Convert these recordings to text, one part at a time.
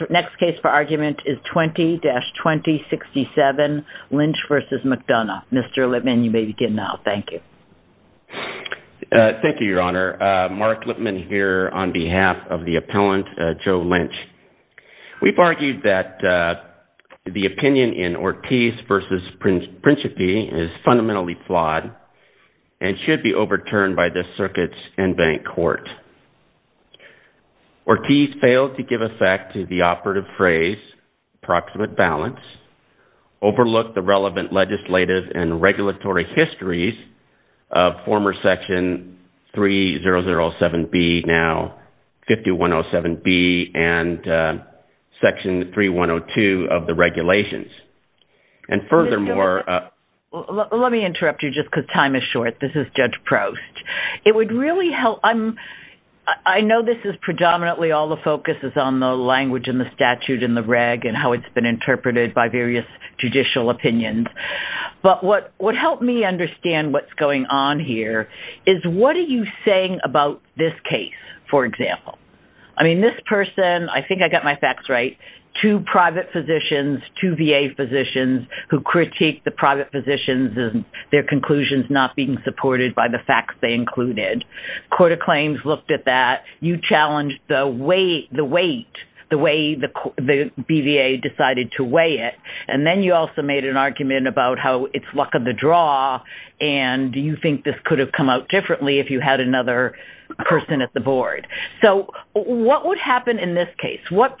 The next case for argument is 20-2067, Lynch v. McDonough. Mr. Lippman, you may begin now. Thank you. Thank you, Your Honor. Mark Lippman here on behalf of the appellant, Joe Lynch. We've argued that the opinion in Ortiz v. Principe is fundamentally flawed and should be overturned by this circuit's in-bank court. Ortiz failed to give effect to the operative phrase, proximate balance, overlook the relevant legislative and regulatory histories of former Section 3007B, now 5107B, and Section 3102 of the regulations. And furthermore... Let me interrupt you just because time is short. This is Judge Proust. It would really help... I know this is predominantly all the focus is on the language and the statute and the reg and how it's been interpreted by various judicial opinions. But what would help me understand what's going on here is what are you saying about this case, for example? I mean, this person, I think I got my facts right, two private physicians, two VA physicians who critiqued the private physicians and their conclusions not being supported by the facts they included. Court of Claims looked at that. You challenged the weight, the way the BVA decided to weigh it. And then you also made an argument about how it's luck of the draw. And do you think this could have come out differently if you had another person at the board? So what would happen in this case? What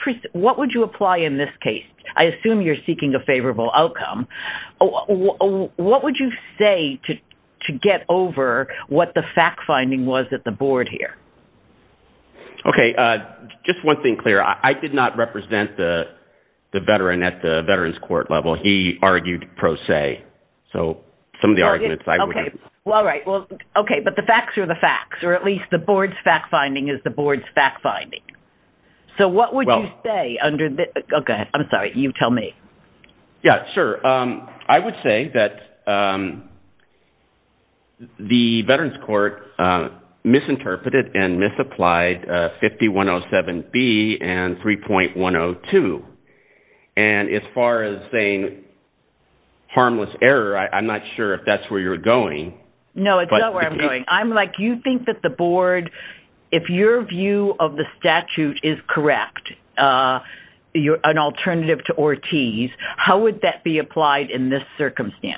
would you apply in this case? I assume you're welcome. What would you say to get over what the fact-finding was at the board here? Okay. Just one thing, Claire. I did not represent the veteran at the veterans court level. He argued pro se. So some of the arguments I would... Okay. Well, all right. Well, okay. But the facts are the facts, or at least the board's fact-finding is the board's fact-finding. So what would you say under the... Okay. I'm sorry. You tell me. Yeah, sure. I would say that the veterans court misinterpreted and misapplied 5107B and 3.102. And as far as saying harmless error, I'm not sure if that's where you're going. No, it's not where I'm going. I'm like, you think that the board, if your view of the how would that be applied in this circumstance?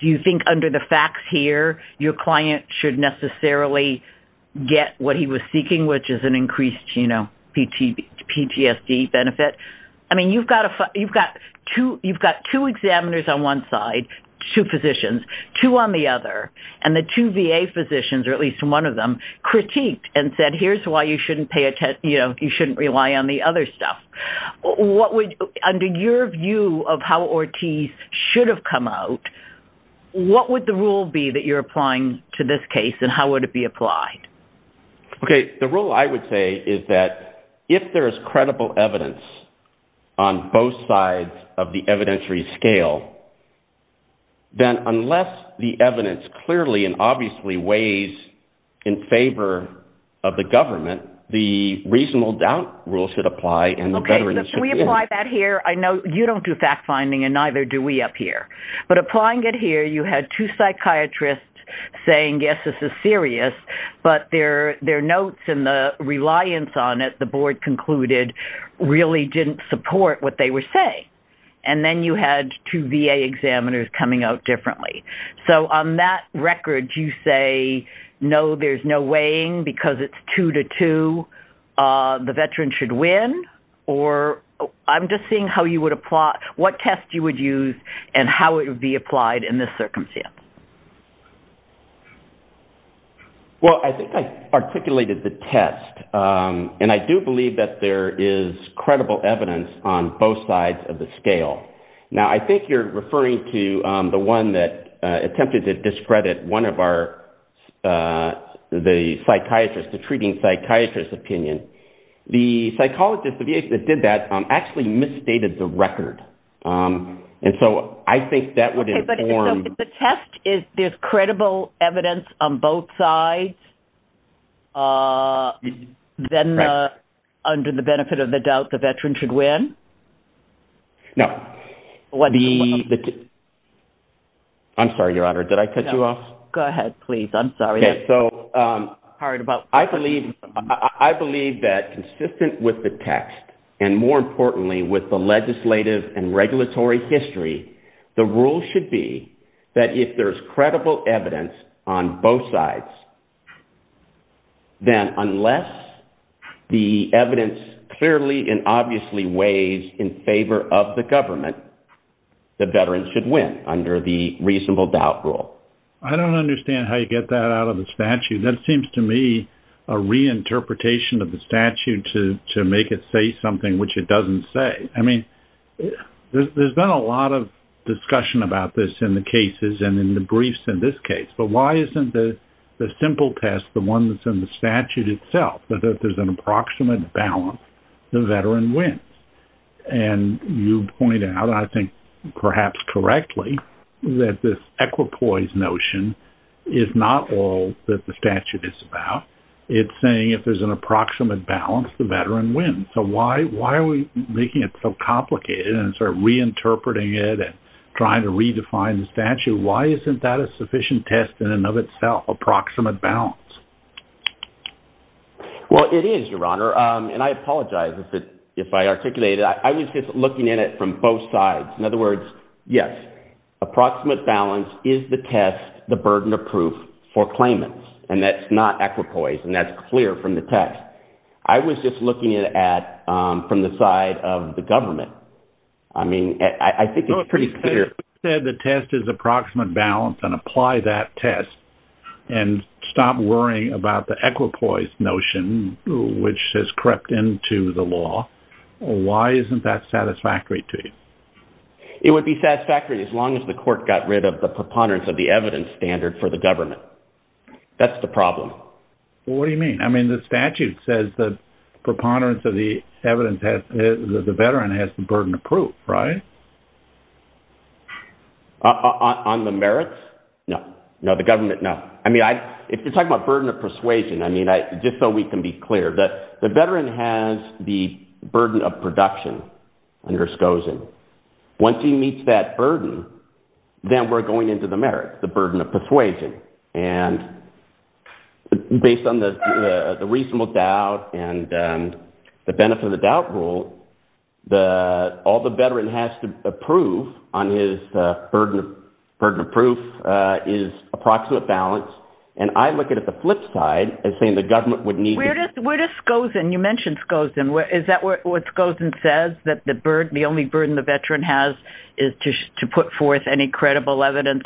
Do you think under the facts here, your client should necessarily get what he was seeking, which is an increased PTSD benefit? I mean, you've got two examiners on one side, two physicians, two on the other, and the two VA physicians, or at least one of them, critiqued and said, here's why you shouldn't rely on the other stuff. Under your view of how Ortiz should have come out, what would the rule be that you're applying to this case and how would it be applied? Okay. The rule I would say is that if there is credible evidence on both sides of the evidentiary scale, then unless the evidence clearly and obviously weighs in favor of the government, the reasonable doubt rule should apply. Okay. If we apply that here, I know you don't do fact-finding and neither do we up here, but applying it here, you had two psychiatrists saying, yes, this is serious, but their notes and the reliance on it, the board concluded, really didn't support what they were saying. And then you had two VA examiners coming out differently. So on that record, you say, no, there's no weighing because it's two to two. The veteran should win, or I'm just seeing how you would apply, what test you would use and how it would be applied in this circumstance. Well, I think I articulated the test. And I do believe that there is credible evidence on both sides of the scale. Now, I think you're referring to the one that attempted to discredit one of our the psychiatrists, the treating psychiatrist's opinion. The psychologist, the VA that did that actually misstated the record. And so I think that would inform- The test is there's credible evidence on both sides, then under the benefit of the doubt, the veteran should win? No. I'm sorry, Your Honor. Did I cut you off? Go ahead, please. I'm sorry. I believe that consistent with the text, and more importantly, with the legislative and regulatory history, the rule should be that if there's credible evidence on both sides, then unless the evidence clearly and obviously weighs in favor of the government, the veteran should win under the reasonable doubt rule. I don't understand how you get that out of the statute. That seems to me a reinterpretation of the statute to make it say something which it doesn't say. I mean, there's been a lot of discussion about this in the cases and in the briefs in this case. But why isn't the simple test, the one that's in the statute itself, that if there's an approximate balance, the veteran wins? And you point out, I think perhaps correctly, that this equipoise notion is not all that the statute is about. It's saying if there's an approximate balance, the veteran wins. So why are we making it so complicated and sort of reinterpreting it and trying to redefine the statute? Why isn't that a sufficient test in and of itself, approximate balance? Well, it is, Your Honor. And I apologize if I articulated it. I was just looking at it from both sides. In other words, yes, approximate balance is the test, the burden of proof for claimants. And that's not equipoise and that's clear from the test. I was just looking at it from the side of the government. I mean, I think it's pretty clear. You said the test is approximate balance and apply that test and stop worrying about the equipoise notion, which has crept into the law. Why isn't that satisfactory to you? It would be satisfactory as long as the court got rid of the preponderance of the evidence standard for the government. That's the problem. Well, what do you mean? I mean, the statute says that preponderance of the evidence that the veteran has the burden of proof, right? On the merits? No. No, the government, no. I mean, if you're talking about burden of persuasion, I mean, just so we can be clear, the veteran has the burden of production under Scozen. Once he meets that burden, then we're going into the merits, the burden of persuasion. And based on the reasonable doubt and the benefit of the doubt rule, all the veteran has to approve on his burden of proof is approximate balance. And I look at it the flip side and saying the government would need... Where does Scozen, you mentioned Scozen, is that what Scozen says, that the only burden the veteran has is to put forth any credible evidence,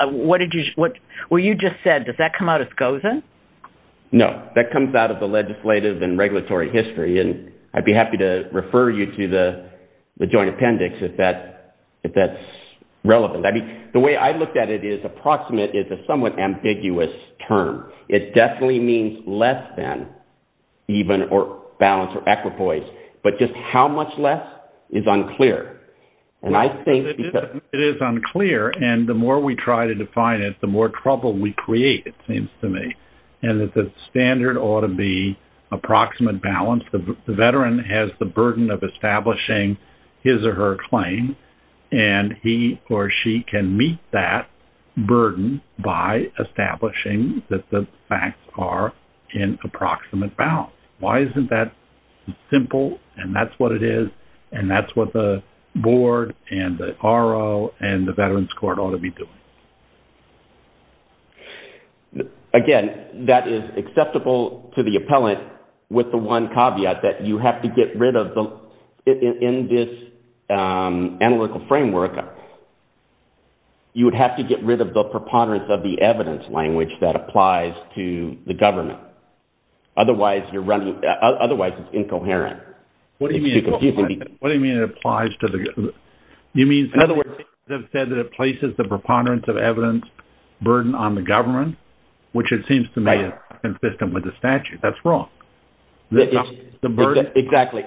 what did you... What you just said, does that come out as Scozen? No, that comes out of the legislative and regulatory history. And I'd be happy to refer you to the joint appendix if that's relevant. I mean, the way I looked at it is approximate is a somewhat ambiguous term. It definitely means less than even or balanced but just how much less is unclear. And I think... It is unclear. And the more we try to define it, the more trouble we create, it seems to me. And that the standard ought to be approximate balance. The veteran has the burden of establishing his or her claim. And he or she can meet that burden by establishing that the facts are in approximate balance. Why isn't that simple? And that's what it is. And that's what the board and the RO and the Veterans Court ought to be doing. Again, that is acceptable to the appellant with the one caveat that you have to get rid of the... In this analytical framework, you would have to get rid of the preponderance of the evidence language that applies to the government. Otherwise, you're running... Otherwise, it's incoherent. What do you mean incoherent? What do you mean it applies to the... You mean, in other words, they've said that it places the preponderance of evidence burden on the government, which it seems to me is consistent with the statute. That's wrong. Exactly. Exactly.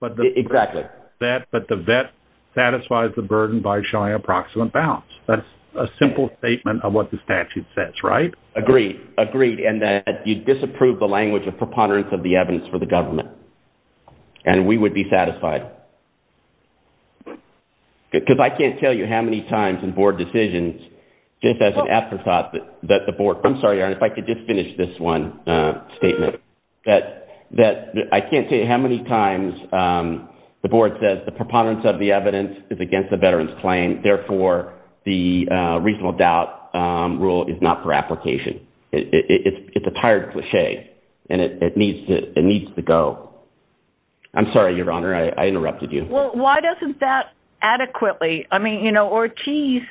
But the vet satisfies the burden by showing approximate balance. That's a simple statement of what the statute says, right? Agreed. Agreed. And that you disapprove the language of preponderance of the evidence for the government. And we would be satisfied. Because I can't tell you how many times in board decisions, just as an afterthought, that the board... I'm sorry, Your Honor, if I could just finish this one statement. That I can't tell you how many times the board says the preponderance of the evidence is against the veteran's claim. Therefore, the reasonable doubt rule is not for application. It's a tired cliche, and it needs to go. I'm sorry, Your Honor. I interrupted you. Well, why doesn't that adequately... I mean, Ortiz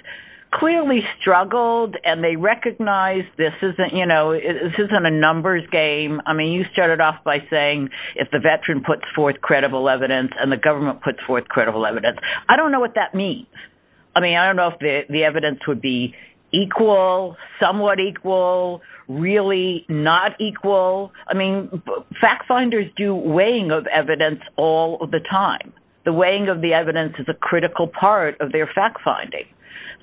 clearly struggled and they recognized this isn't a numbers game. I mean, you started off by saying if the veteran puts forth credible evidence and the government puts forth credible evidence. I don't know what that means. I mean, I don't know if the evidence would be equal, somewhat equal, really not equal. I mean, fact finders do weighing of evidence all of the time. The weighing of the evidence is a critical part of their fact finding.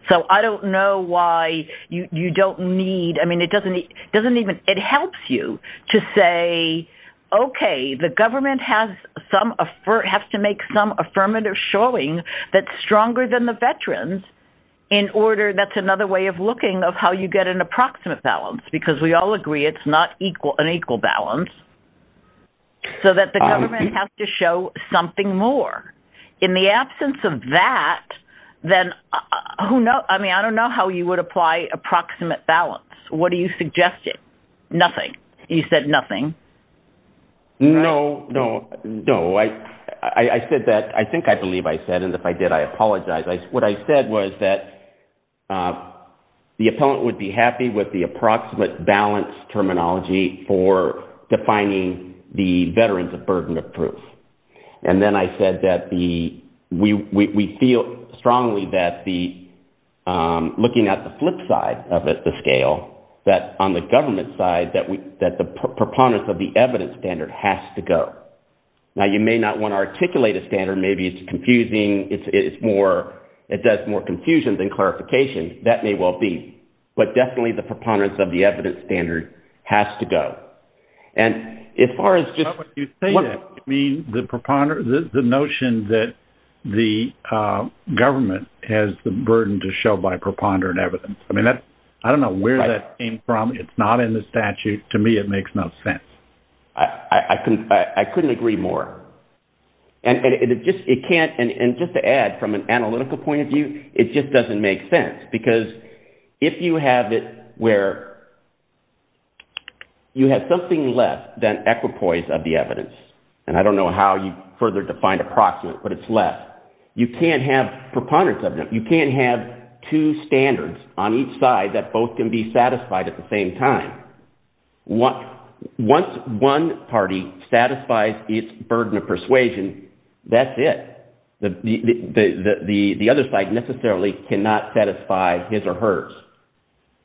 So I don't know why you don't need... I mean, it doesn't even... It helps you to say, okay, the government has to make some affirmative showing that's stronger than the veterans in order... That's another way of looking of how you get an approximate balance, because we all agree it's not an equal balance. So that the government has to show something more. In the absence of that, then who knows? I mean, I don't know how you would apply approximate balance. What are you suggesting? Nothing. You said nothing. No, no, no. I said that... I think I believe I said, and if I did, I apologize. What I said was that the appellant would be happy with the approximate balance terminology for defining the veterans of burden of proof. And then I said that we feel strongly that looking at the flip side of the scale, that on the government side, that the preponderance of the evidence standard has to go. Now, you may not want to articulate a standard. Maybe it's confusing. It's more... It does more confusion than clarification. That may well be. But definitely the preponderance of the evidence standard has to go. And as far as just... Robert, you say that. I mean, the notion that the government has the burden to show by preponderant evidence. I mean, I don't know where that came from. It's not in the statute. To me, it makes no sense. I couldn't agree more. And just to add, from an analytical point of view, it just doesn't make sense. Because if you have it where you have something less than equipoise of the evidence, and I don't know how you further define approximate, but it's less, you can't have preponderance of them. You can't have two standards on each side that both can be satisfied at the same time. Once one party satisfies its burden of persuasion, that's it. The other side necessarily cannot satisfy his or hers.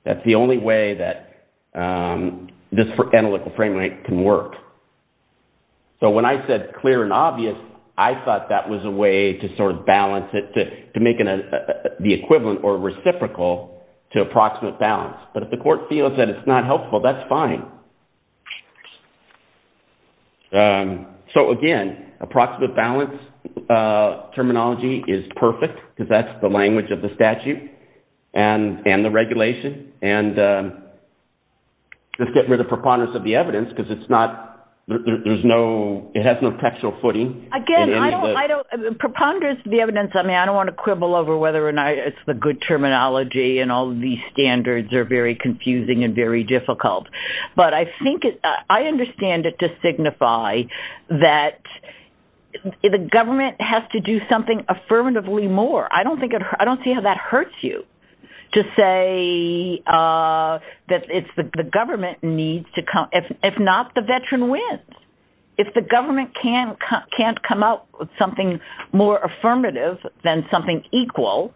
That's the only way that this analytical framework can work. So when I said clear and obvious, I thought that was a way to sort of balance it, to make the equivalent or reciprocal to approximate balance. But if the court feels that it's not helpful, that's fine. So again, approximate balance terminology is perfect, because that's the language of the statute and the regulation. And let's get rid of preponderance of the evidence, because it has no factual footing. Again, preponderance of the evidence, I mean, I don't want to quibble over whether or not it's the good terminology and all these standards are very confusing and very difficult. But I understand it to signify that the government has to do something affirmatively more. I don't see how that hurts you to say that it's the government needs to come. If not, the veteran wins. If the government can't come up with something more affirmative than something equal,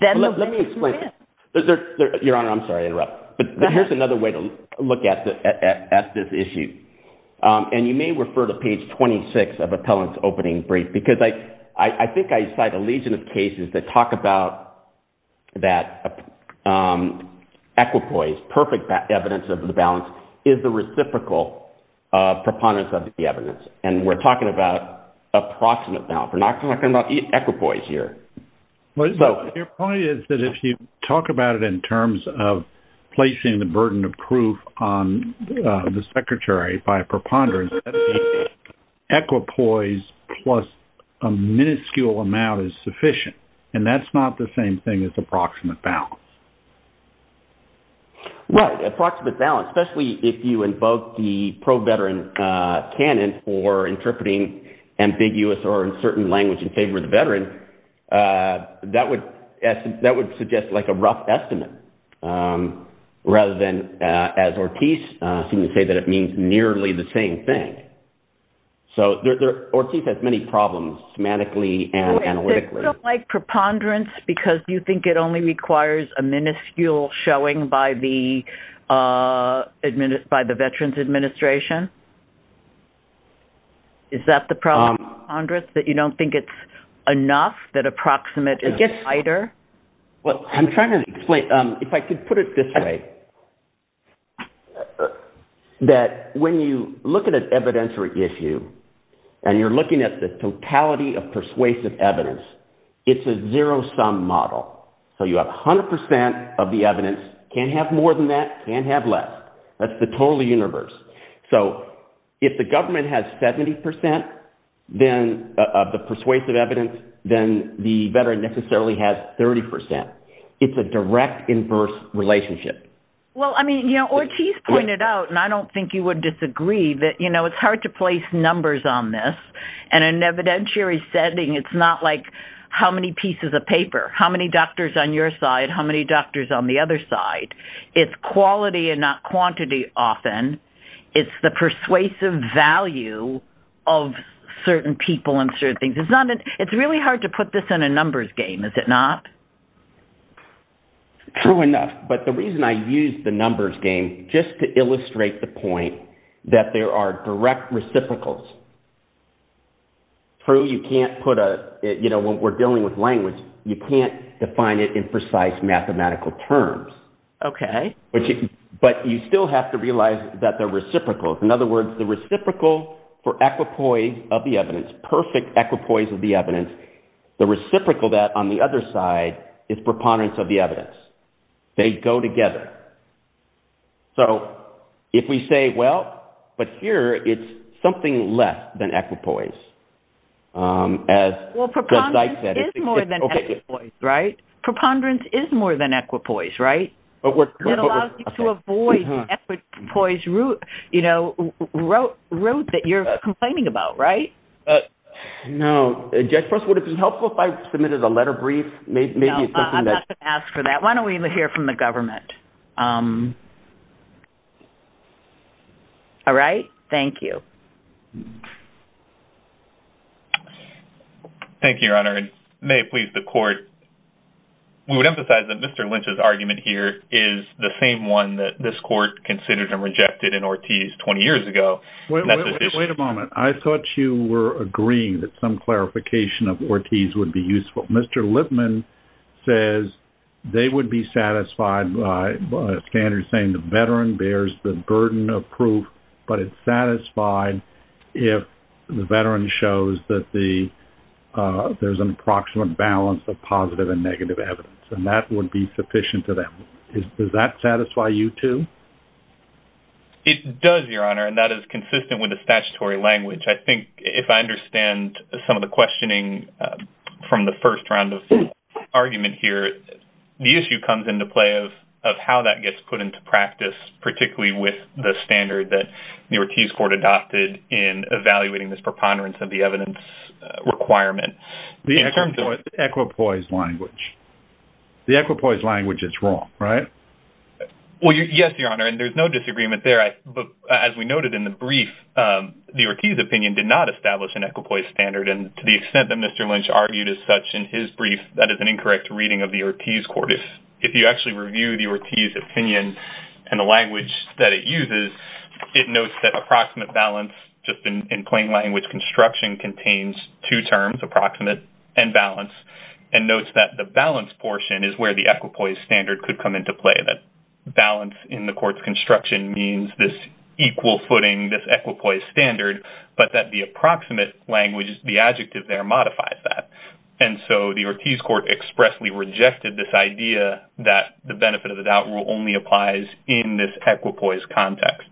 then the veteran wins. Let me explain. Your Honor, I'm sorry to interrupt. But here's another way to look at this issue. And you may refer to page 26 of Appellant's opening brief, because I think I cite a legion of cases that talk about that equipoise, perfect evidence of the balance, is the reciprocal preponderance of the evidence. And we're talking about approximate balance. We're not talking about equipoise here. Your point is that if you talk about it in terms of placing the burden of proof on the secretary by preponderance, equipoise plus a minuscule amount is sufficient. And that's not the same thing as approximate balance. Well, approximate balance, especially if you invoke the pro-veteran canon for interpreting ambiguous or in certain language in favor of the veteran, that would suggest like a rough estimate rather than, as Ortiz seemed to say, that it means nearly the same thing. So Ortiz has many problems semantically and analytically. So it's like preponderance because you think it only requires a minuscule showing by the Veterans Administration? Is that the problem with preponderance, that you don't think it's enough, that approximate gets tighter? Well, I'm trying to explain. If I could put it this way, that when you look at an evidentiary issue and you're looking at the totality of persuasive evidence, it's a zero-sum model. So you have 100% of the evidence, can't have more than that, can't have less. That's the total universe. So if the government has 70% of the persuasive evidence, then the veteran necessarily has 30%. It's a direct inverse relationship. Well, I mean, you know, Ortiz pointed out, and I don't think you would disagree that, you know, it's hard to place numbers on this. And in an evidentiary setting, it's not like how many pieces of paper, how many doctors on your side, how many doctors on the other side. It's quality and not quantity often. It's the persuasive value of certain people and certain things. It's really hard to put this in a numbers game, is it not? True enough. But the reason I use the numbers game, just to illustrate the point that there are direct reciprocals. True, you can't put a, you know, when we're dealing with language, you can't define it in precise mathematical terms. Okay. But you still have to realize that they're reciprocals. In other words, the reciprocal for equipoise of the evidence, perfect equipoise of the evidence, the reciprocal that on the other side is preponderance of the evidence. They go together. So if we say, well, but here it's something less than equipoise. Well, preponderance is more than equipoise, right? Preponderance is more than equipoise, right? It allows you to avoid the equipoise route, you know, route that you're complaining about, right? No. Jeffress, would it be helpful if I submitted a letter brief? No, I'm not going to ask for that. Why don't we hear from the government? All right. Thank you. Thank you, Your Honor. And may it please the court, we would emphasize that Mr. Lynch's argument here is the same one that this court considered and rejected in Ortiz 20 years ago. Wait a moment. I thought you were agreeing that some clarification of Ortiz would be useful. Mr. Lipman says they would be satisfied by a standard saying the veteran bears the burden of proof, but it's satisfied if the veteran shows that there's an approximate balance of positive and negative evidence. And that would be sufficient to them. Does that satisfy you too? It does, Your Honor. And that is consistent with the statutory language. I think if I understand some of the questioning from the first round of argument here, the issue comes into play of how that gets put into practice, particularly with the standard that the Ortiz court adopted in evaluating this preponderance of the evidence requirement. The equipoise language. The equipoise language is wrong, right? Well, yes, Your Honor. And there's no disagreement there. But as we noted in the brief, the Ortiz opinion did not establish an equipoise standard. And to the extent that Mr. Lynch argued as such in his brief, that is an incorrect reading of the Ortiz court. If you actually review the Ortiz opinion and the language that it uses, it notes that approximate balance just in plain language construction contains two terms, approximate and balance, and notes that the balance portion is where the equipoise standard could come into play. That balance in the court's construction means this equal footing, this equipoise standard, but that the approximate language, the adjective there modifies that. And so the Ortiz court expressly rejected this idea that the benefit of the doubt rule only applies in this equipoise context.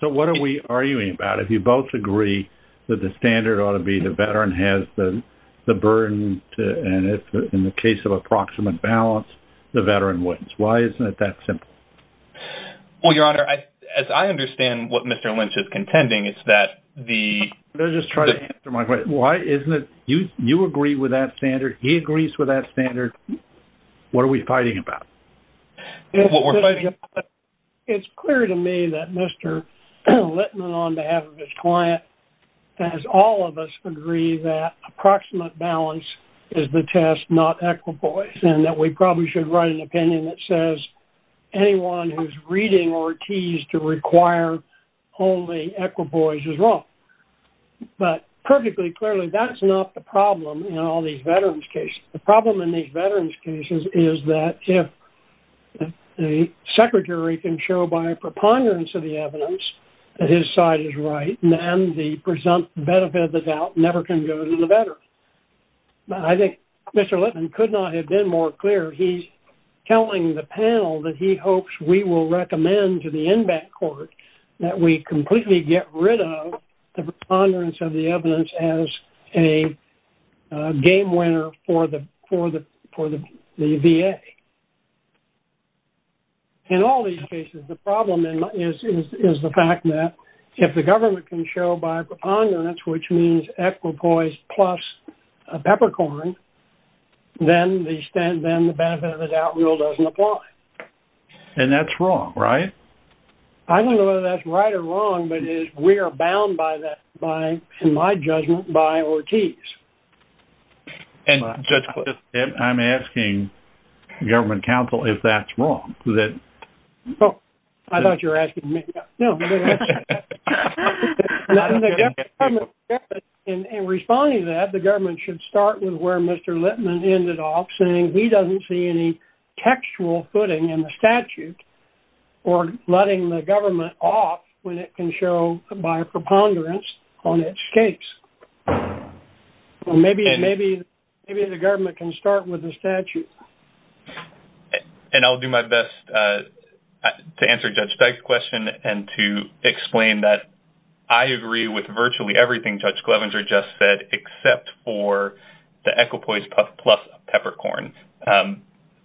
So what are we arguing about? If you both agree that the standard ought to be the veteran has the burden, and if in the case of approximate balance, the veteran wins. Why isn't it that simple? Well, Your Honor, as I understand what Mr. Lynch is contending, it's that the... Let me just try to answer my question. You agree with that standard. He agrees with that standard. What are we fighting about? It's clear to me that Mr. Littman, on behalf of his client, has all of us agree that approximate balance is the test, not equipoise, and that we probably should write an opinion that says anyone who's reading Ortiz to require only equipoise is wrong. But perfectly clearly, that's not the problem in all these veterans' cases. The problem in these veterans' cases is that if the secretary can show by preponderance of the evidence that his side is right, then the benefit of the doubt never can go to the veteran. But I think Mr. Littman could not have been more clear. He's telling the panel that he hopes we will recommend to the inbound court that we completely get rid of the preponderance of the evidence as a game winner for the VA. In all these cases, the problem is the fact that if the government can show by preponderance, which means equipoise plus a peppercorn, then the benefit of the doubt rule doesn't apply. And that's wrong, right? I don't know whether that's right or wrong, but we are bound by that, in my judgment, by Ortiz. And I'm asking the government counsel if that's wrong. I thought you were asking me. No. In responding to that, the government should start with where Mr. Littman ended off, he doesn't see any textual footing in the statute or letting the government off when it can show by preponderance on its case. Maybe the government can start with the statute. And I'll do my best to answer Judge Steig's question and to explain that I agree with Mr. Littman.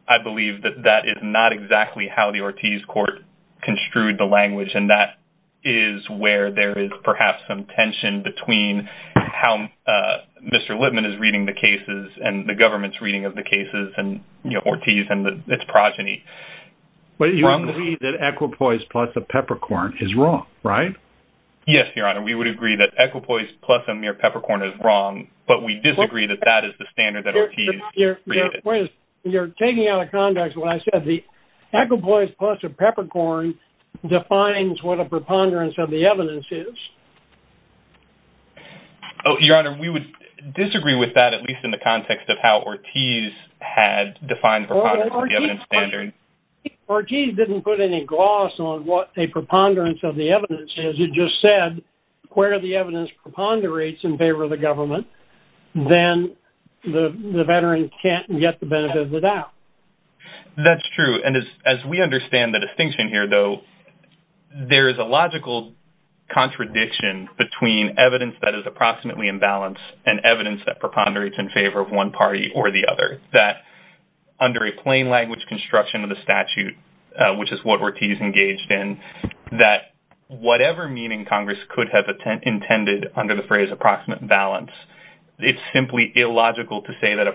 I believe that that is not exactly how the Ortiz court construed the language. And that is where there is perhaps some tension between how Mr. Littman is reading the cases and the government's reading of the cases and, you know, Ortiz and its progeny. You agree that equipoise plus a peppercorn is wrong, right? Yes, Your Honor, we would agree that equipoise plus a mere peppercorn is wrong, but we disagree that that is the standard that Ortiz created. You're taking out of context what I said, the equipoise plus a peppercorn defines what a preponderance of the evidence is. Oh, Your Honor, we would disagree with that, at least in the context of how Ortiz had defined preponderance of the evidence standard. Ortiz didn't put any gloss on what a preponderance of the evidence is. He just said, where the evidence preponderates in favor of the government, then the veteran can't get the benefit of the doubt. That's true. And as we understand the distinction here, though, there is a logical contradiction between evidence that is approximately imbalanced and evidence that preponderates in favor of one party or the other, that under a plain language construction of the statute, which is what Ortiz engaged in, that whatever meaning Congress could have intended under the phrase approximate balance, it's simply illogical to say that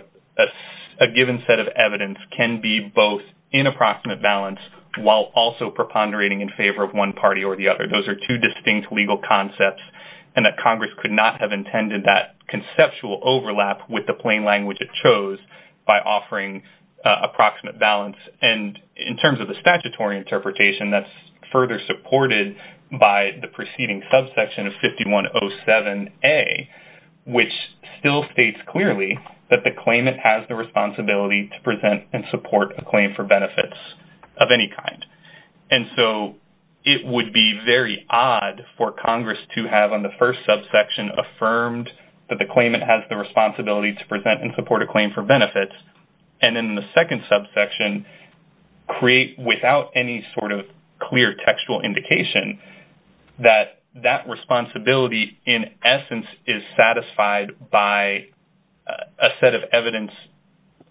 a given set of evidence can be both in approximate balance while also preponderating in favor of one party or the other. Those are two distinct legal concepts, and that Congress could not have intended that conceptual overlap with the plain language it chose by offering approximate balance. And in terms of the statutory interpretation, that's further supported by the preceding subsection of 5107A, which still states clearly that the claimant has the responsibility to present and support a claim for benefits of any kind. And so it would be very odd for Congress to have on the first subsection affirmed that the claimant has the responsibility to present and support a claim for benefits. And in the second subsection, create without any sort of clear textual indication that that responsibility in essence is satisfied by a set of evidence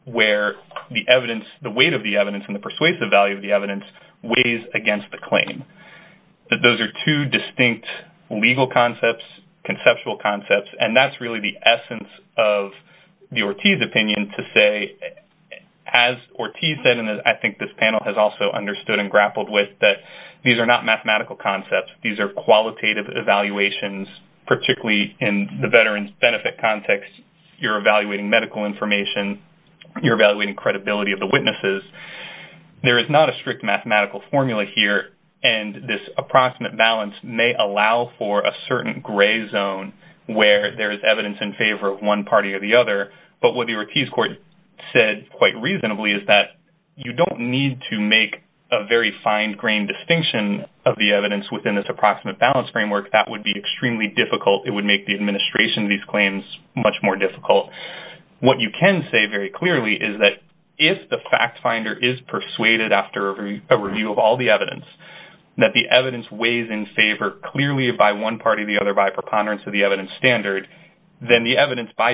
where the evidence, the weight of the evidence, and the persuasive value of the evidence weighs against the claim. Those are two distinct legal concepts, conceptual concepts, and that's really the essence of the As Ortiz said, and I think this panel has also understood and grappled with that these are not mathematical concepts. These are qualitative evaluations, particularly in the veteran's benefit context. You're evaluating medical information. You're evaluating credibility of the witnesses. There is not a strict mathematical formula here, and this approximate balance may allow for a certain gray zone where there is evidence in said quite reasonably is that you don't need to make a very fine-grained distinction of the evidence within this approximate balance framework. That would be extremely difficult. It would make the administration of these claims much more difficult. What you can say very clearly is that if the fact finder is persuaded after a review of all the evidence that the evidence weighs in favor clearly by one party or the other by preponderance of the evidence standard, then the evidence by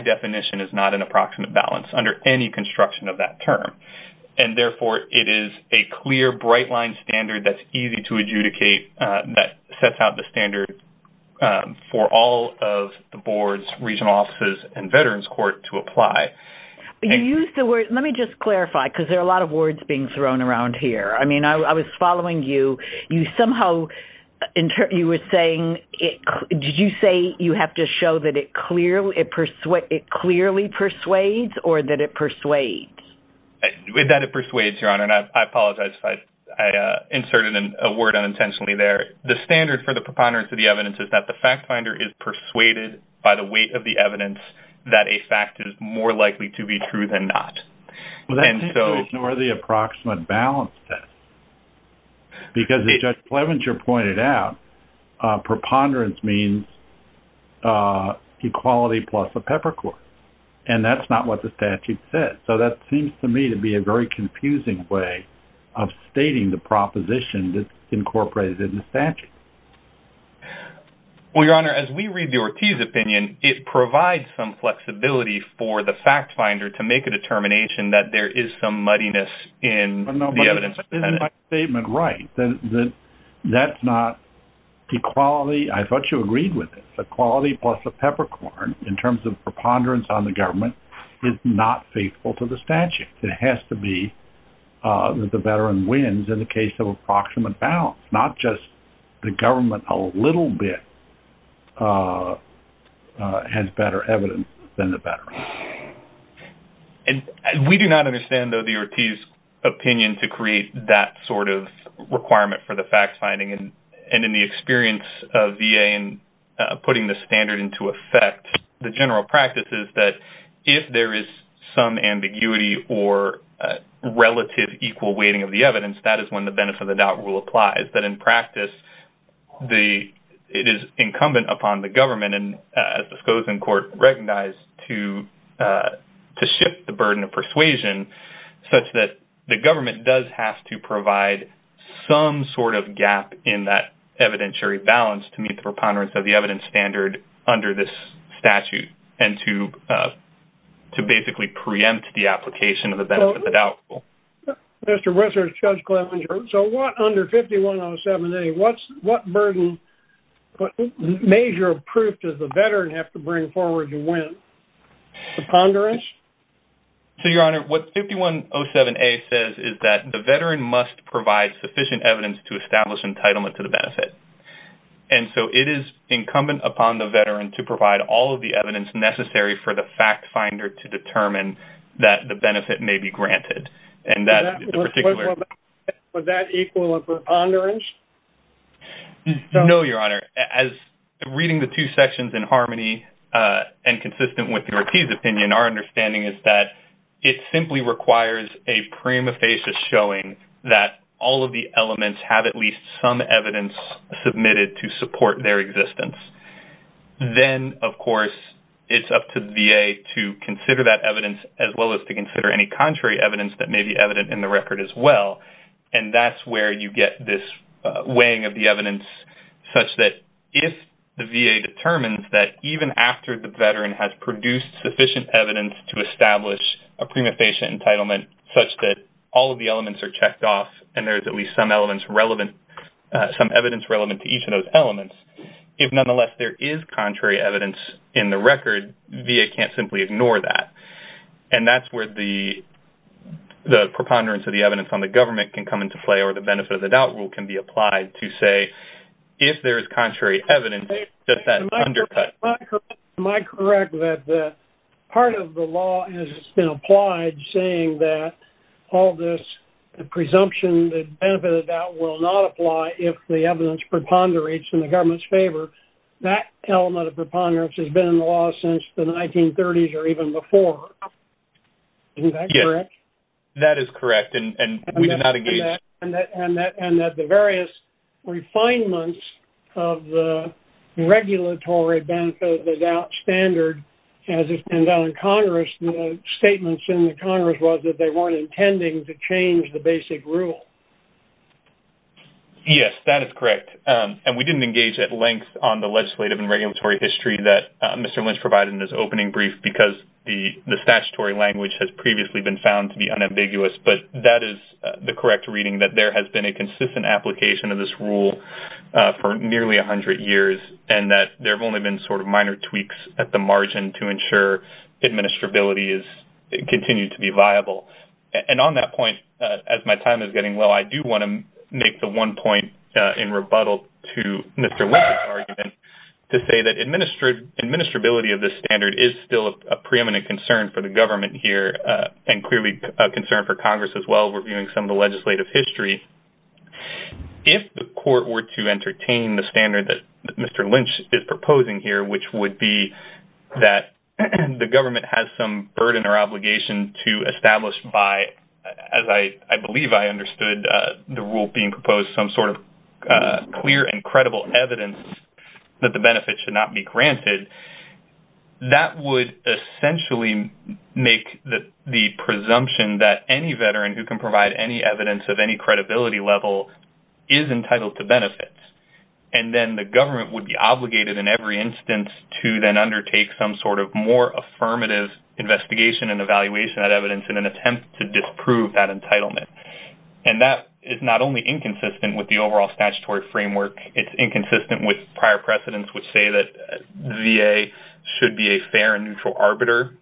any construction of that term. Therefore, it is a clear, bright-line standard that's easy to adjudicate that sets out the standard for all of the boards, regional offices, and veterans court to apply. Let me just clarify because there are a lot of words being thrown around here. I mean, I was following you. You somehow were saying, did you say you have to show that it clearly persuades or that it persuades? That it persuades, Your Honor, and I apologize if I inserted a word unintentionally there. The standard for the preponderance of the evidence is that the fact finder is persuaded by the weight of the evidence that a fact is more likely to be true than not. Well, that's because you ignore the approximate balance test. Because as Judge Plevenger pointed out, preponderance means equality plus a peppercorn. And that's not what the statute says. So that seems to me to be a very confusing way of stating the proposition that's incorporated in the statute. Well, Your Honor, as we read the Ortiz opinion, it provides some flexibility for the fact finder to make a determination that there is some muddiness in the evidence. Isn't my statement right? That that's not equality. I thought you agreed with it. Equality plus a peppercorn in terms of preponderance on the government is not faithful to the statute. It has to be that the veteran wins in the case of approximate balance. Not just the government a little bit has better evidence than the veteran. And we do not understand though the Ortiz opinion to create that sort of requirement for the fact finding and in the experience of VA and putting the standard into effect. The general practice is that if there is some ambiguity or relative equal weighting of the evidence, that is when the benefit of the doubt rule applies. That in practice, it is incumbent upon the government and disclosing court recognized to shift the burden of persuasion such that the government does have to provide some sort of gap in that evidentiary balance to meet the preponderance of the evidence standard under this statute and to basically preempt the application of the benefit of the doubt rule. Mr. Whistler, Judge Clevenger, so what under 5107A, what burden, what measure of proof does the veteran have to bring forward to win? Preponderance? So, Your Honor, what 5107A says is that the veteran must provide sufficient evidence to establish entitlement to the benefit. And so, it is incumbent upon the veteran to provide all of the evidence necessary for the fact finder to determine that the benefit may be granted. And that in particular... Would that equal a preponderance? No, Your Honor. As reading the two sections in harmony and consistent with the Rortiz opinion, our understanding is that it simply requires a prima facie showing that all of the elements have at least some evidence submitted to support their existence. Then, of course, it is up to VA to consider that evidence as well as to consider any contrary evidence that may be evident in the weighing of the evidence such that if the VA determines that even after the veteran has produced sufficient evidence to establish a prima facie entitlement such that all of the elements are checked off and there's at least some evidence relevant to each of those elements, if nonetheless there is contrary evidence in the record, VA can't simply ignore that. And that's where the preponderance of the evidence on the government can come into play or the benefit of the doubt rule can be applied to say, if there is contrary evidence, does that undercut... Am I correct that part of the law has been applied saying that all this presumption that benefit of doubt will not apply if the evidence preponderates in the government's favor? That element of preponderance has been in the law since the 1930s or even before. Isn't that correct? That is correct. And we did not engage... And that the various refinements of the regulatory benefit of the doubt standard as it's been done in Congress, the statements in the Congress was that they weren't intending to change the basic rule. Yes, that is correct. And we didn't engage at length on the legislative and regulatory history that Mr. Lynch provided in his opening brief because the statutory language has previously been found to be unambiguous. But that is the correct reading that there has been a consistent application of this rule for nearly 100 years, and that there have only been sort of minor tweaks at the margin to ensure administrability continues to be viable. And on that point, as my time is getting low, I do want to make the one point in rebuttal to Mr. Lynch's argument to say that administrability of this standard is still a preeminent concern for the government here, and clearly a concern for Congress as well, reviewing some of the legislative history. If the court were to entertain the standard that Mr. Lynch is proposing here, which would be that the government has some burden or obligation to establish by, as I believe I understood the rule being proposed, some sort of clear and credible evidence that the make the presumption that any veteran who can provide any evidence of any credibility level is entitled to benefits. And then the government would be obligated in every instance to then undertake some sort of more affirmative investigation and evaluation of that evidence in an attempt to disprove that entitlement. And that is not only inconsistent with the overall statutory framework, it's inconsistent with prior precedents which say that VA should be a fair and neutral arbiter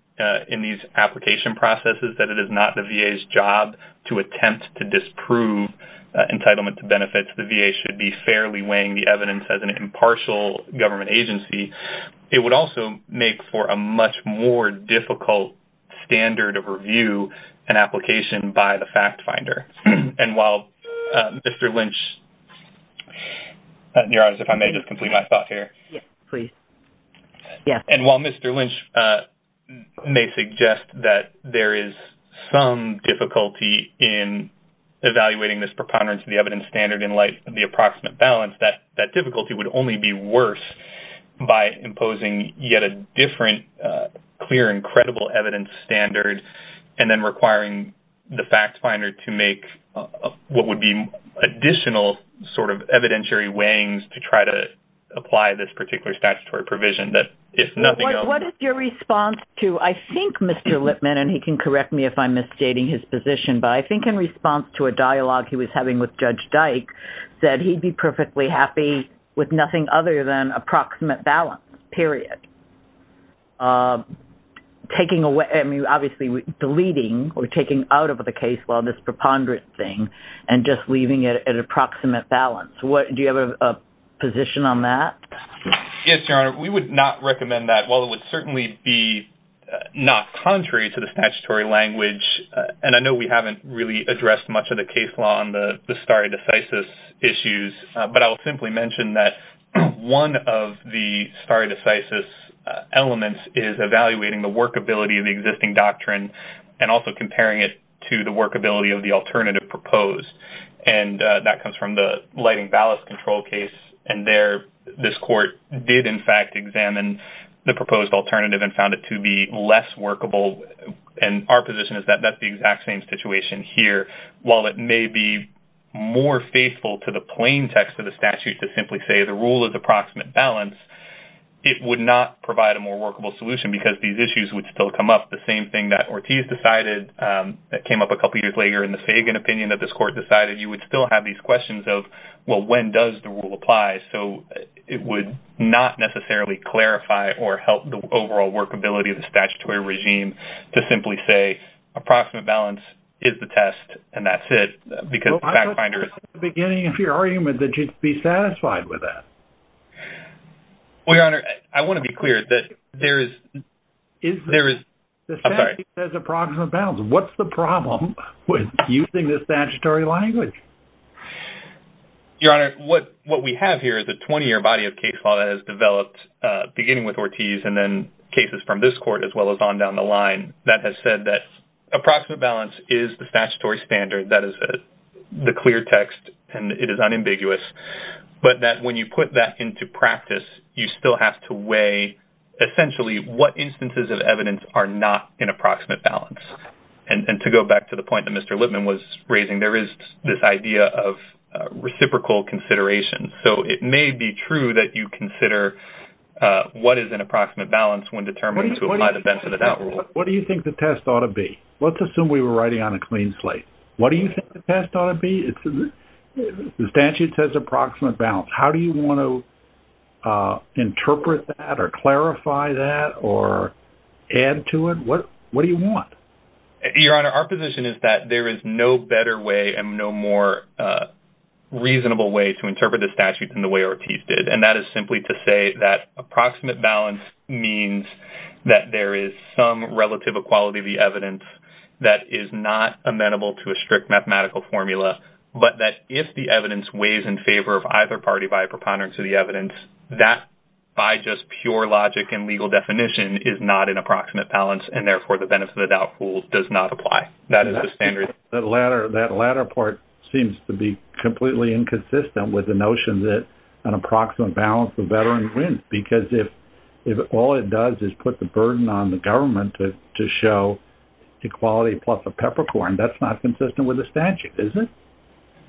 in these application processes, that it is not the VA's job to attempt to disprove entitlement to benefits. The VA should be fairly weighing the evidence as an impartial government agency. It would also make for a much more difficult standard of review and application by the fact finder. And while Mr. Lynch... ...may suggest that there is some difficulty in evaluating this preponderance of the evidence standard in light of the approximate balance, that difficulty would only be worse by imposing yet a different clear and credible evidence standard and then requiring the fact finder to make what would be additional sort of evidentiary weighings to try to apply this particular statutory provision that if nothing else... What is your response to, I think Mr. Lipman, and he can correct me if I'm misstating his position, but I think in response to a dialogue he was having with Judge Dyke, said he'd be perfectly happy with nothing other than approximate balance, period. I mean, obviously deleting or taking out of the case law this preponderance thing and just leaving it at approximate balance. Do you have a position on that? Yes, Your Honor. We would not recommend that. While it would certainly be not contrary to the statutory language, and I know we haven't really addressed much of the case law on the stare decisis issues, but I'll simply mention that one of the stare decisis elements is evaluating the workability of the existing doctrine and also comparing it to the workability of the alternative proposed. And that comes from the lighting ballast control case, and there this court did, in fact, examine the proposed alternative and found it to be less workable. And our position is that that's the exact same situation here. While it may be more faithful to the plain text of the statute to simply say the rule is approximate balance, it would not provide a more workable solution because these issues would still come up. The same thing that Ortiz decided that came up a couple years later in the Fagan opinion that this court decided, you would still have these questions of, well, when does the rule apply? So it would not necessarily clarify or help the overall workability of the statutory regime to simply say approximate balance is the test, and that's it, because the fact finder is- Well, I thought you said at the beginning of your argument that you'd be satisfied with that. Well, Your Honor, I want to be clear that there is- The statute says approximate balance. What's the problem with using this statutory language? Your Honor, what we have here is a 20-year body of case law that has developed beginning with Ortiz and then cases from this court as well as on down the line that has said that approximate balance is the statutory standard, that is the clear text, and it is unambiguous, but that when you put that into practice, you still have to weigh essentially what instances of evidence are not in approximate balance. And to go back to the point that Mr. Lippman was raising, there is this idea of reciprocal consideration. So it may be true that you consider what is an approximate balance when determined to apply the benefit of that rule. What do you think the test ought to be? Let's assume we were writing on a clean slate. What do you think the test ought to be? The statute says approximate balance. How do you want to interpret that or clarify that or add to it? What do you want? Your Honor, our position is that there is no better way and no more reasonable way to interpret the statute than the way Ortiz did. And that is simply to say that approximate balance means that there is some relative equality of the evidence that is not amenable to a strict mathematical formula, but that if the evidence weighs in favor of either party by preponderance of the evidence, that by just pure logic and legal definition is not an approximate balance, and therefore, the benefit of the doubt rule does not apply. That is the standard. The latter part seems to be completely inconsistent with the notion that an approximate balance for veterans wins because if all it does is put the burden on the government to show equality plus a peppercorn, that's not consistent with the statute, is it?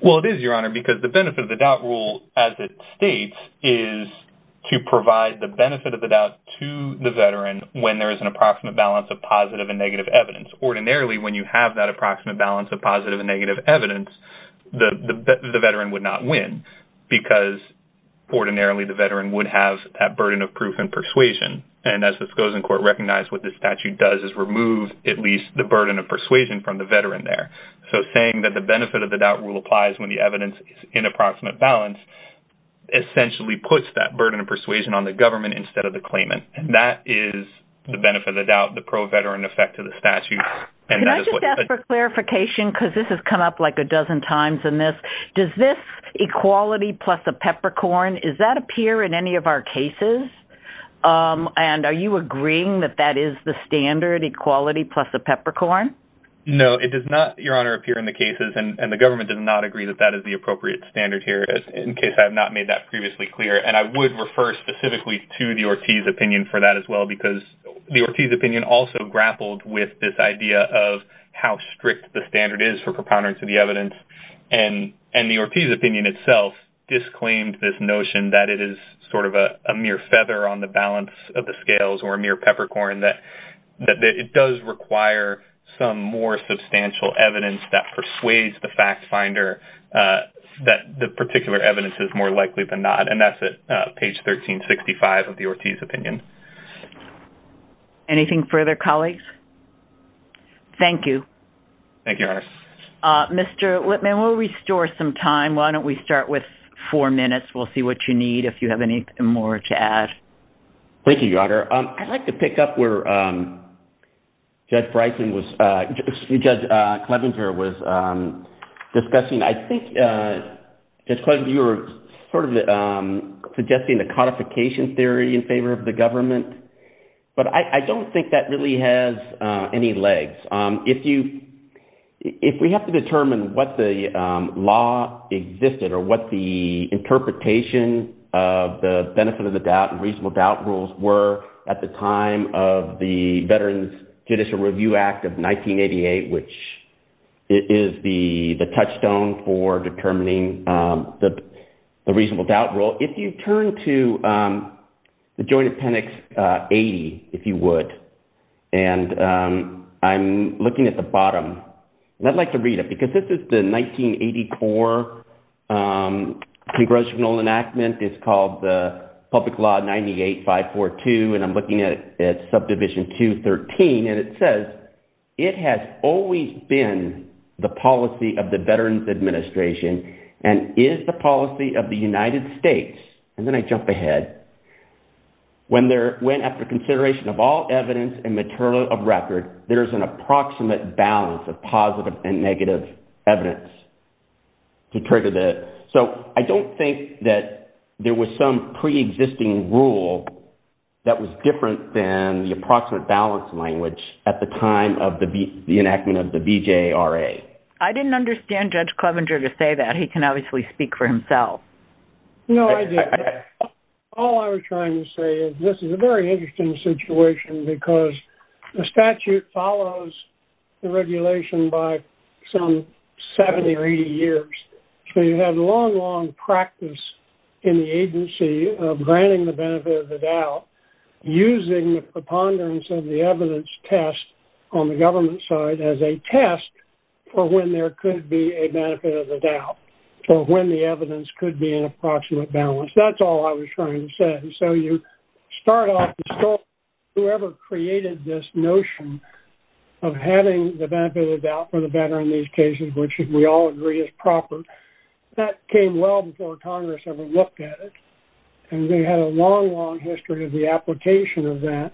Well, it is, Your Honor, because the benefit of the doubt rule as it states is to provide the benefit of the doubt to the veteran when there is an approximate balance of positive and negative evidence. Ordinarily, when you have that approximate balance of positive and negative evidence, the veteran would not win because ordinarily, the veteran would have that burden of proof and persuasion. And as this goes in court, recognize what the statute does is remove at least the burden of persuasion from the veteran there. So saying that the benefit of the doubt rule applies when the evidence is in approximate balance essentially puts that burden of persuasion on the government instead of the claimant. And that is the benefit of the doubt, the pro-veteran effect of the statute. And that is what... Can I just ask for clarification? Because this has come up like a dozen times in this. Does this equality plus a peppercorn, does that appear in any of our cases? And are you agreeing that that is the standard equality plus a peppercorn? No, it does not, Your Honor, appear in the cases. And the government does not agree that that is the appropriate standard here, in case I have not made that previously clear. And I would refer specifically to the Ortiz opinion for that as well, because the Ortiz opinion also grappled with this idea of how strict the standard is for propounding to the evidence. And the Ortiz opinion itself disclaimed this notion that it is sort of a mere feather on the balance of the scales or a mere peppercorn, that it does require some more substantial evidence that persuades the fact finder that the particular evidence is more likely than not. And that is at page 1365 of the Ortiz opinion. Anything further, colleagues? Thank you. Thank you, Your Honor. Mr. Whitman, we'll restore some time. Why don't we start with four minutes? We'll see what you need, if you have anything more to add. Thank you, Your Honor. I'd like to pick up where Judge Clevenger was discussing. I think, Judge Clevenger, you were sort of suggesting the codification theory in favor of the government. But I don't think that really has any legs. If we have to determine what the law existed or what the interpretation of the benefit of the doubt and reasonable doubt rules were at the time of the Veterans Judicial Review Act of 1988, which is the touchstone for determining the reasonable doubt rule, if you turn to the Joint Appendix 80, if you would, and I'm looking at the bottom. I'd like to read it because this is the 1980 core congressional enactment. It's called the Public Law 98-542, and I'm looking at Subdivision 213, and it says, it has always been the policy of the Veterans Administration and is the policy of the United States. And then I jump ahead. When after consideration of all evidence and material of record, there is an approximate balance of positive and negative evidence to trigger the... So I don't think that there was some preexisting rule that was different than the approximate balance language at the time of the enactment of the BJRA. I didn't understand Judge Clevenger to say that. He can obviously speak for himself. No, I didn't. All I was trying to say is this is a very interesting situation because the statute follows the regulation by some 70 or 80 years. So you have long, long practice in the agency of granting the benefit of the doubt using the preponderance of the evidence test on the government side as a test for when there could be a benefit of the doubt, for when the evidence could be in approximate balance. That's all I was trying to say. So you start off the story, whoever created this notion of having the benefit of the doubt for the proper, that came well before Congress ever looked at it. And we had a long, long history of the application of that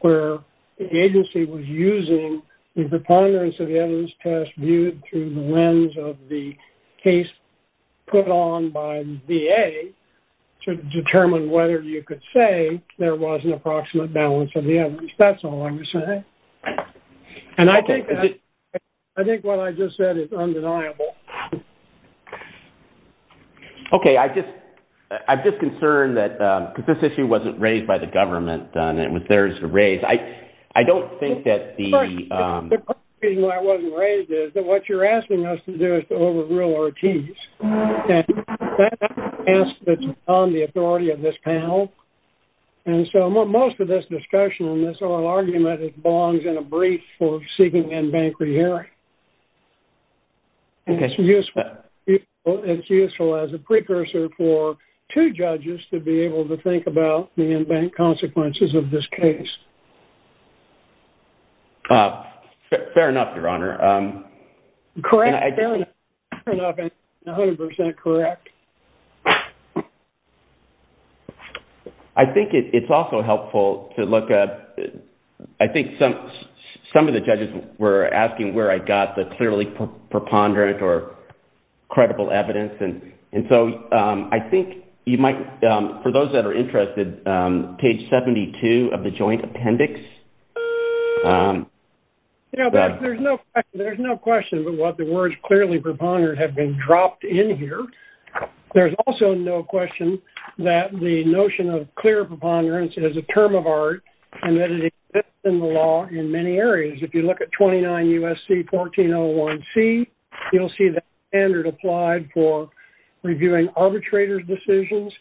where the agency was using the preponderance of the evidence test viewed through the lens of the case put on by the VA to determine whether you could say there was an approximate balance of the evidence. That's all I'm saying. Okay. I think what I just said is undeniable. Okay. I'm just concerned that, because this issue wasn't raised by the government. I don't think that the- Of course, the reason why it wasn't raised is that what you're asking us to do is to overrule Ortiz. And that's on the authority of this panel. And so most of this discussion on this oral argument belongs in a brief for seeking in-bank re-hearing. It's useful as a precursor for two judges to be able to think about the in-bank consequences of this case. Fair enough, Your Honor. Correct. Fair enough. 100% correct. I think it's also helpful to look at- I think some of the judges were asking where I got the clearly preponderant or credible evidence. And so I think you might- for those that are interested, page 72 of the joint appendix- You know, there's no question about what the words clearly preponderant have been dropped in here. There's also no question that the notion of clear preponderance is a term of art, and that it exists in the law in many areas. If you look at 29 U.S.C. 1401C, you'll see the standard applied for reviewing arbitrator's decisions.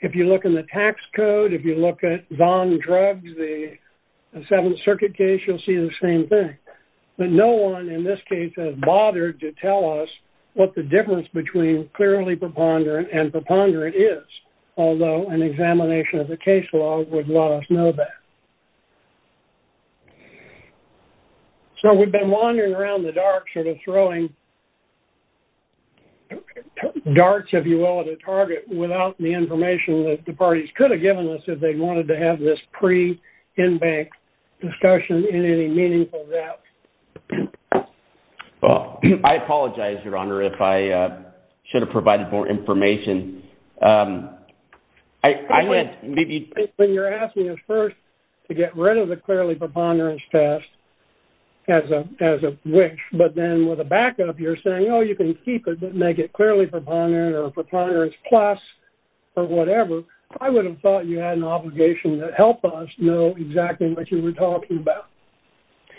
If you look in the tax code, if you look at Zahn drugs, the Seventh Circuit case, you'll see the same thing. But no one in this case has bothered to tell us what the difference between clearly preponderant and preponderant is, although an examination of the case law would let us know that. So we've been wandering around the dark sort of throwing darts, if you will, at a target without the information that the parties could have given us if they wanted to have this pre-Inbank discussion in any meaningful route. Well, I apologize, Your Honor, if I should have provided more information. When you're asking us first to get rid of the clearly preponderance test as a wish, but then with a backup, you're saying, oh, you can keep it, but make it clearly preponderant or preponderance plus or whatever. I would have thought you had an obligation to help us know exactly what you were talking about.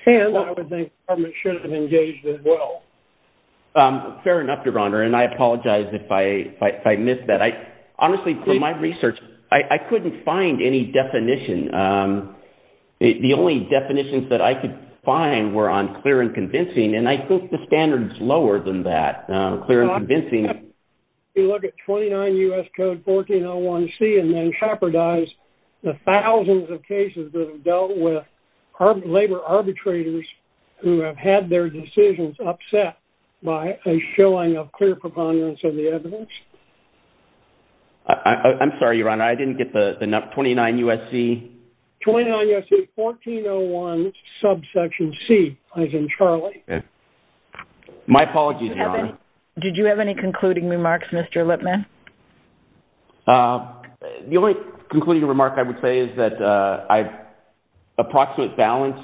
And I would think the government should have engaged as well. Fair enough, Your Honor. And I apologize if I missed that. Honestly, for my research, I couldn't find any definition. The only definitions that I could find were on clear and convincing, and I think the standard's lower than that, clear and convincing. You look at 29 U.S. Code 1401C and then shepherdize the thousands of cases that have dealt with labor arbitrators who have had their decisions upset by a showing of clear preponderance of the evidence. I'm sorry, Your Honor, I didn't get the 29 U.S.C. 29 U.S.C. 1401 subsection C, as in Charlie. My apologies, Your Honor. Did you have any concluding remarks, Mr. Lippman? The only concluding remark I would say is that approximate balance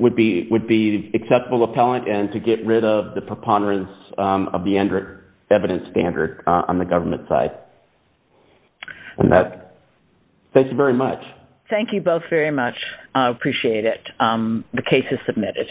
would be acceptable appellant and to get rid of the preponderance of the evidence standard on the government side. Thank you very much. Thank you both very much. I appreciate it. The case is submitted.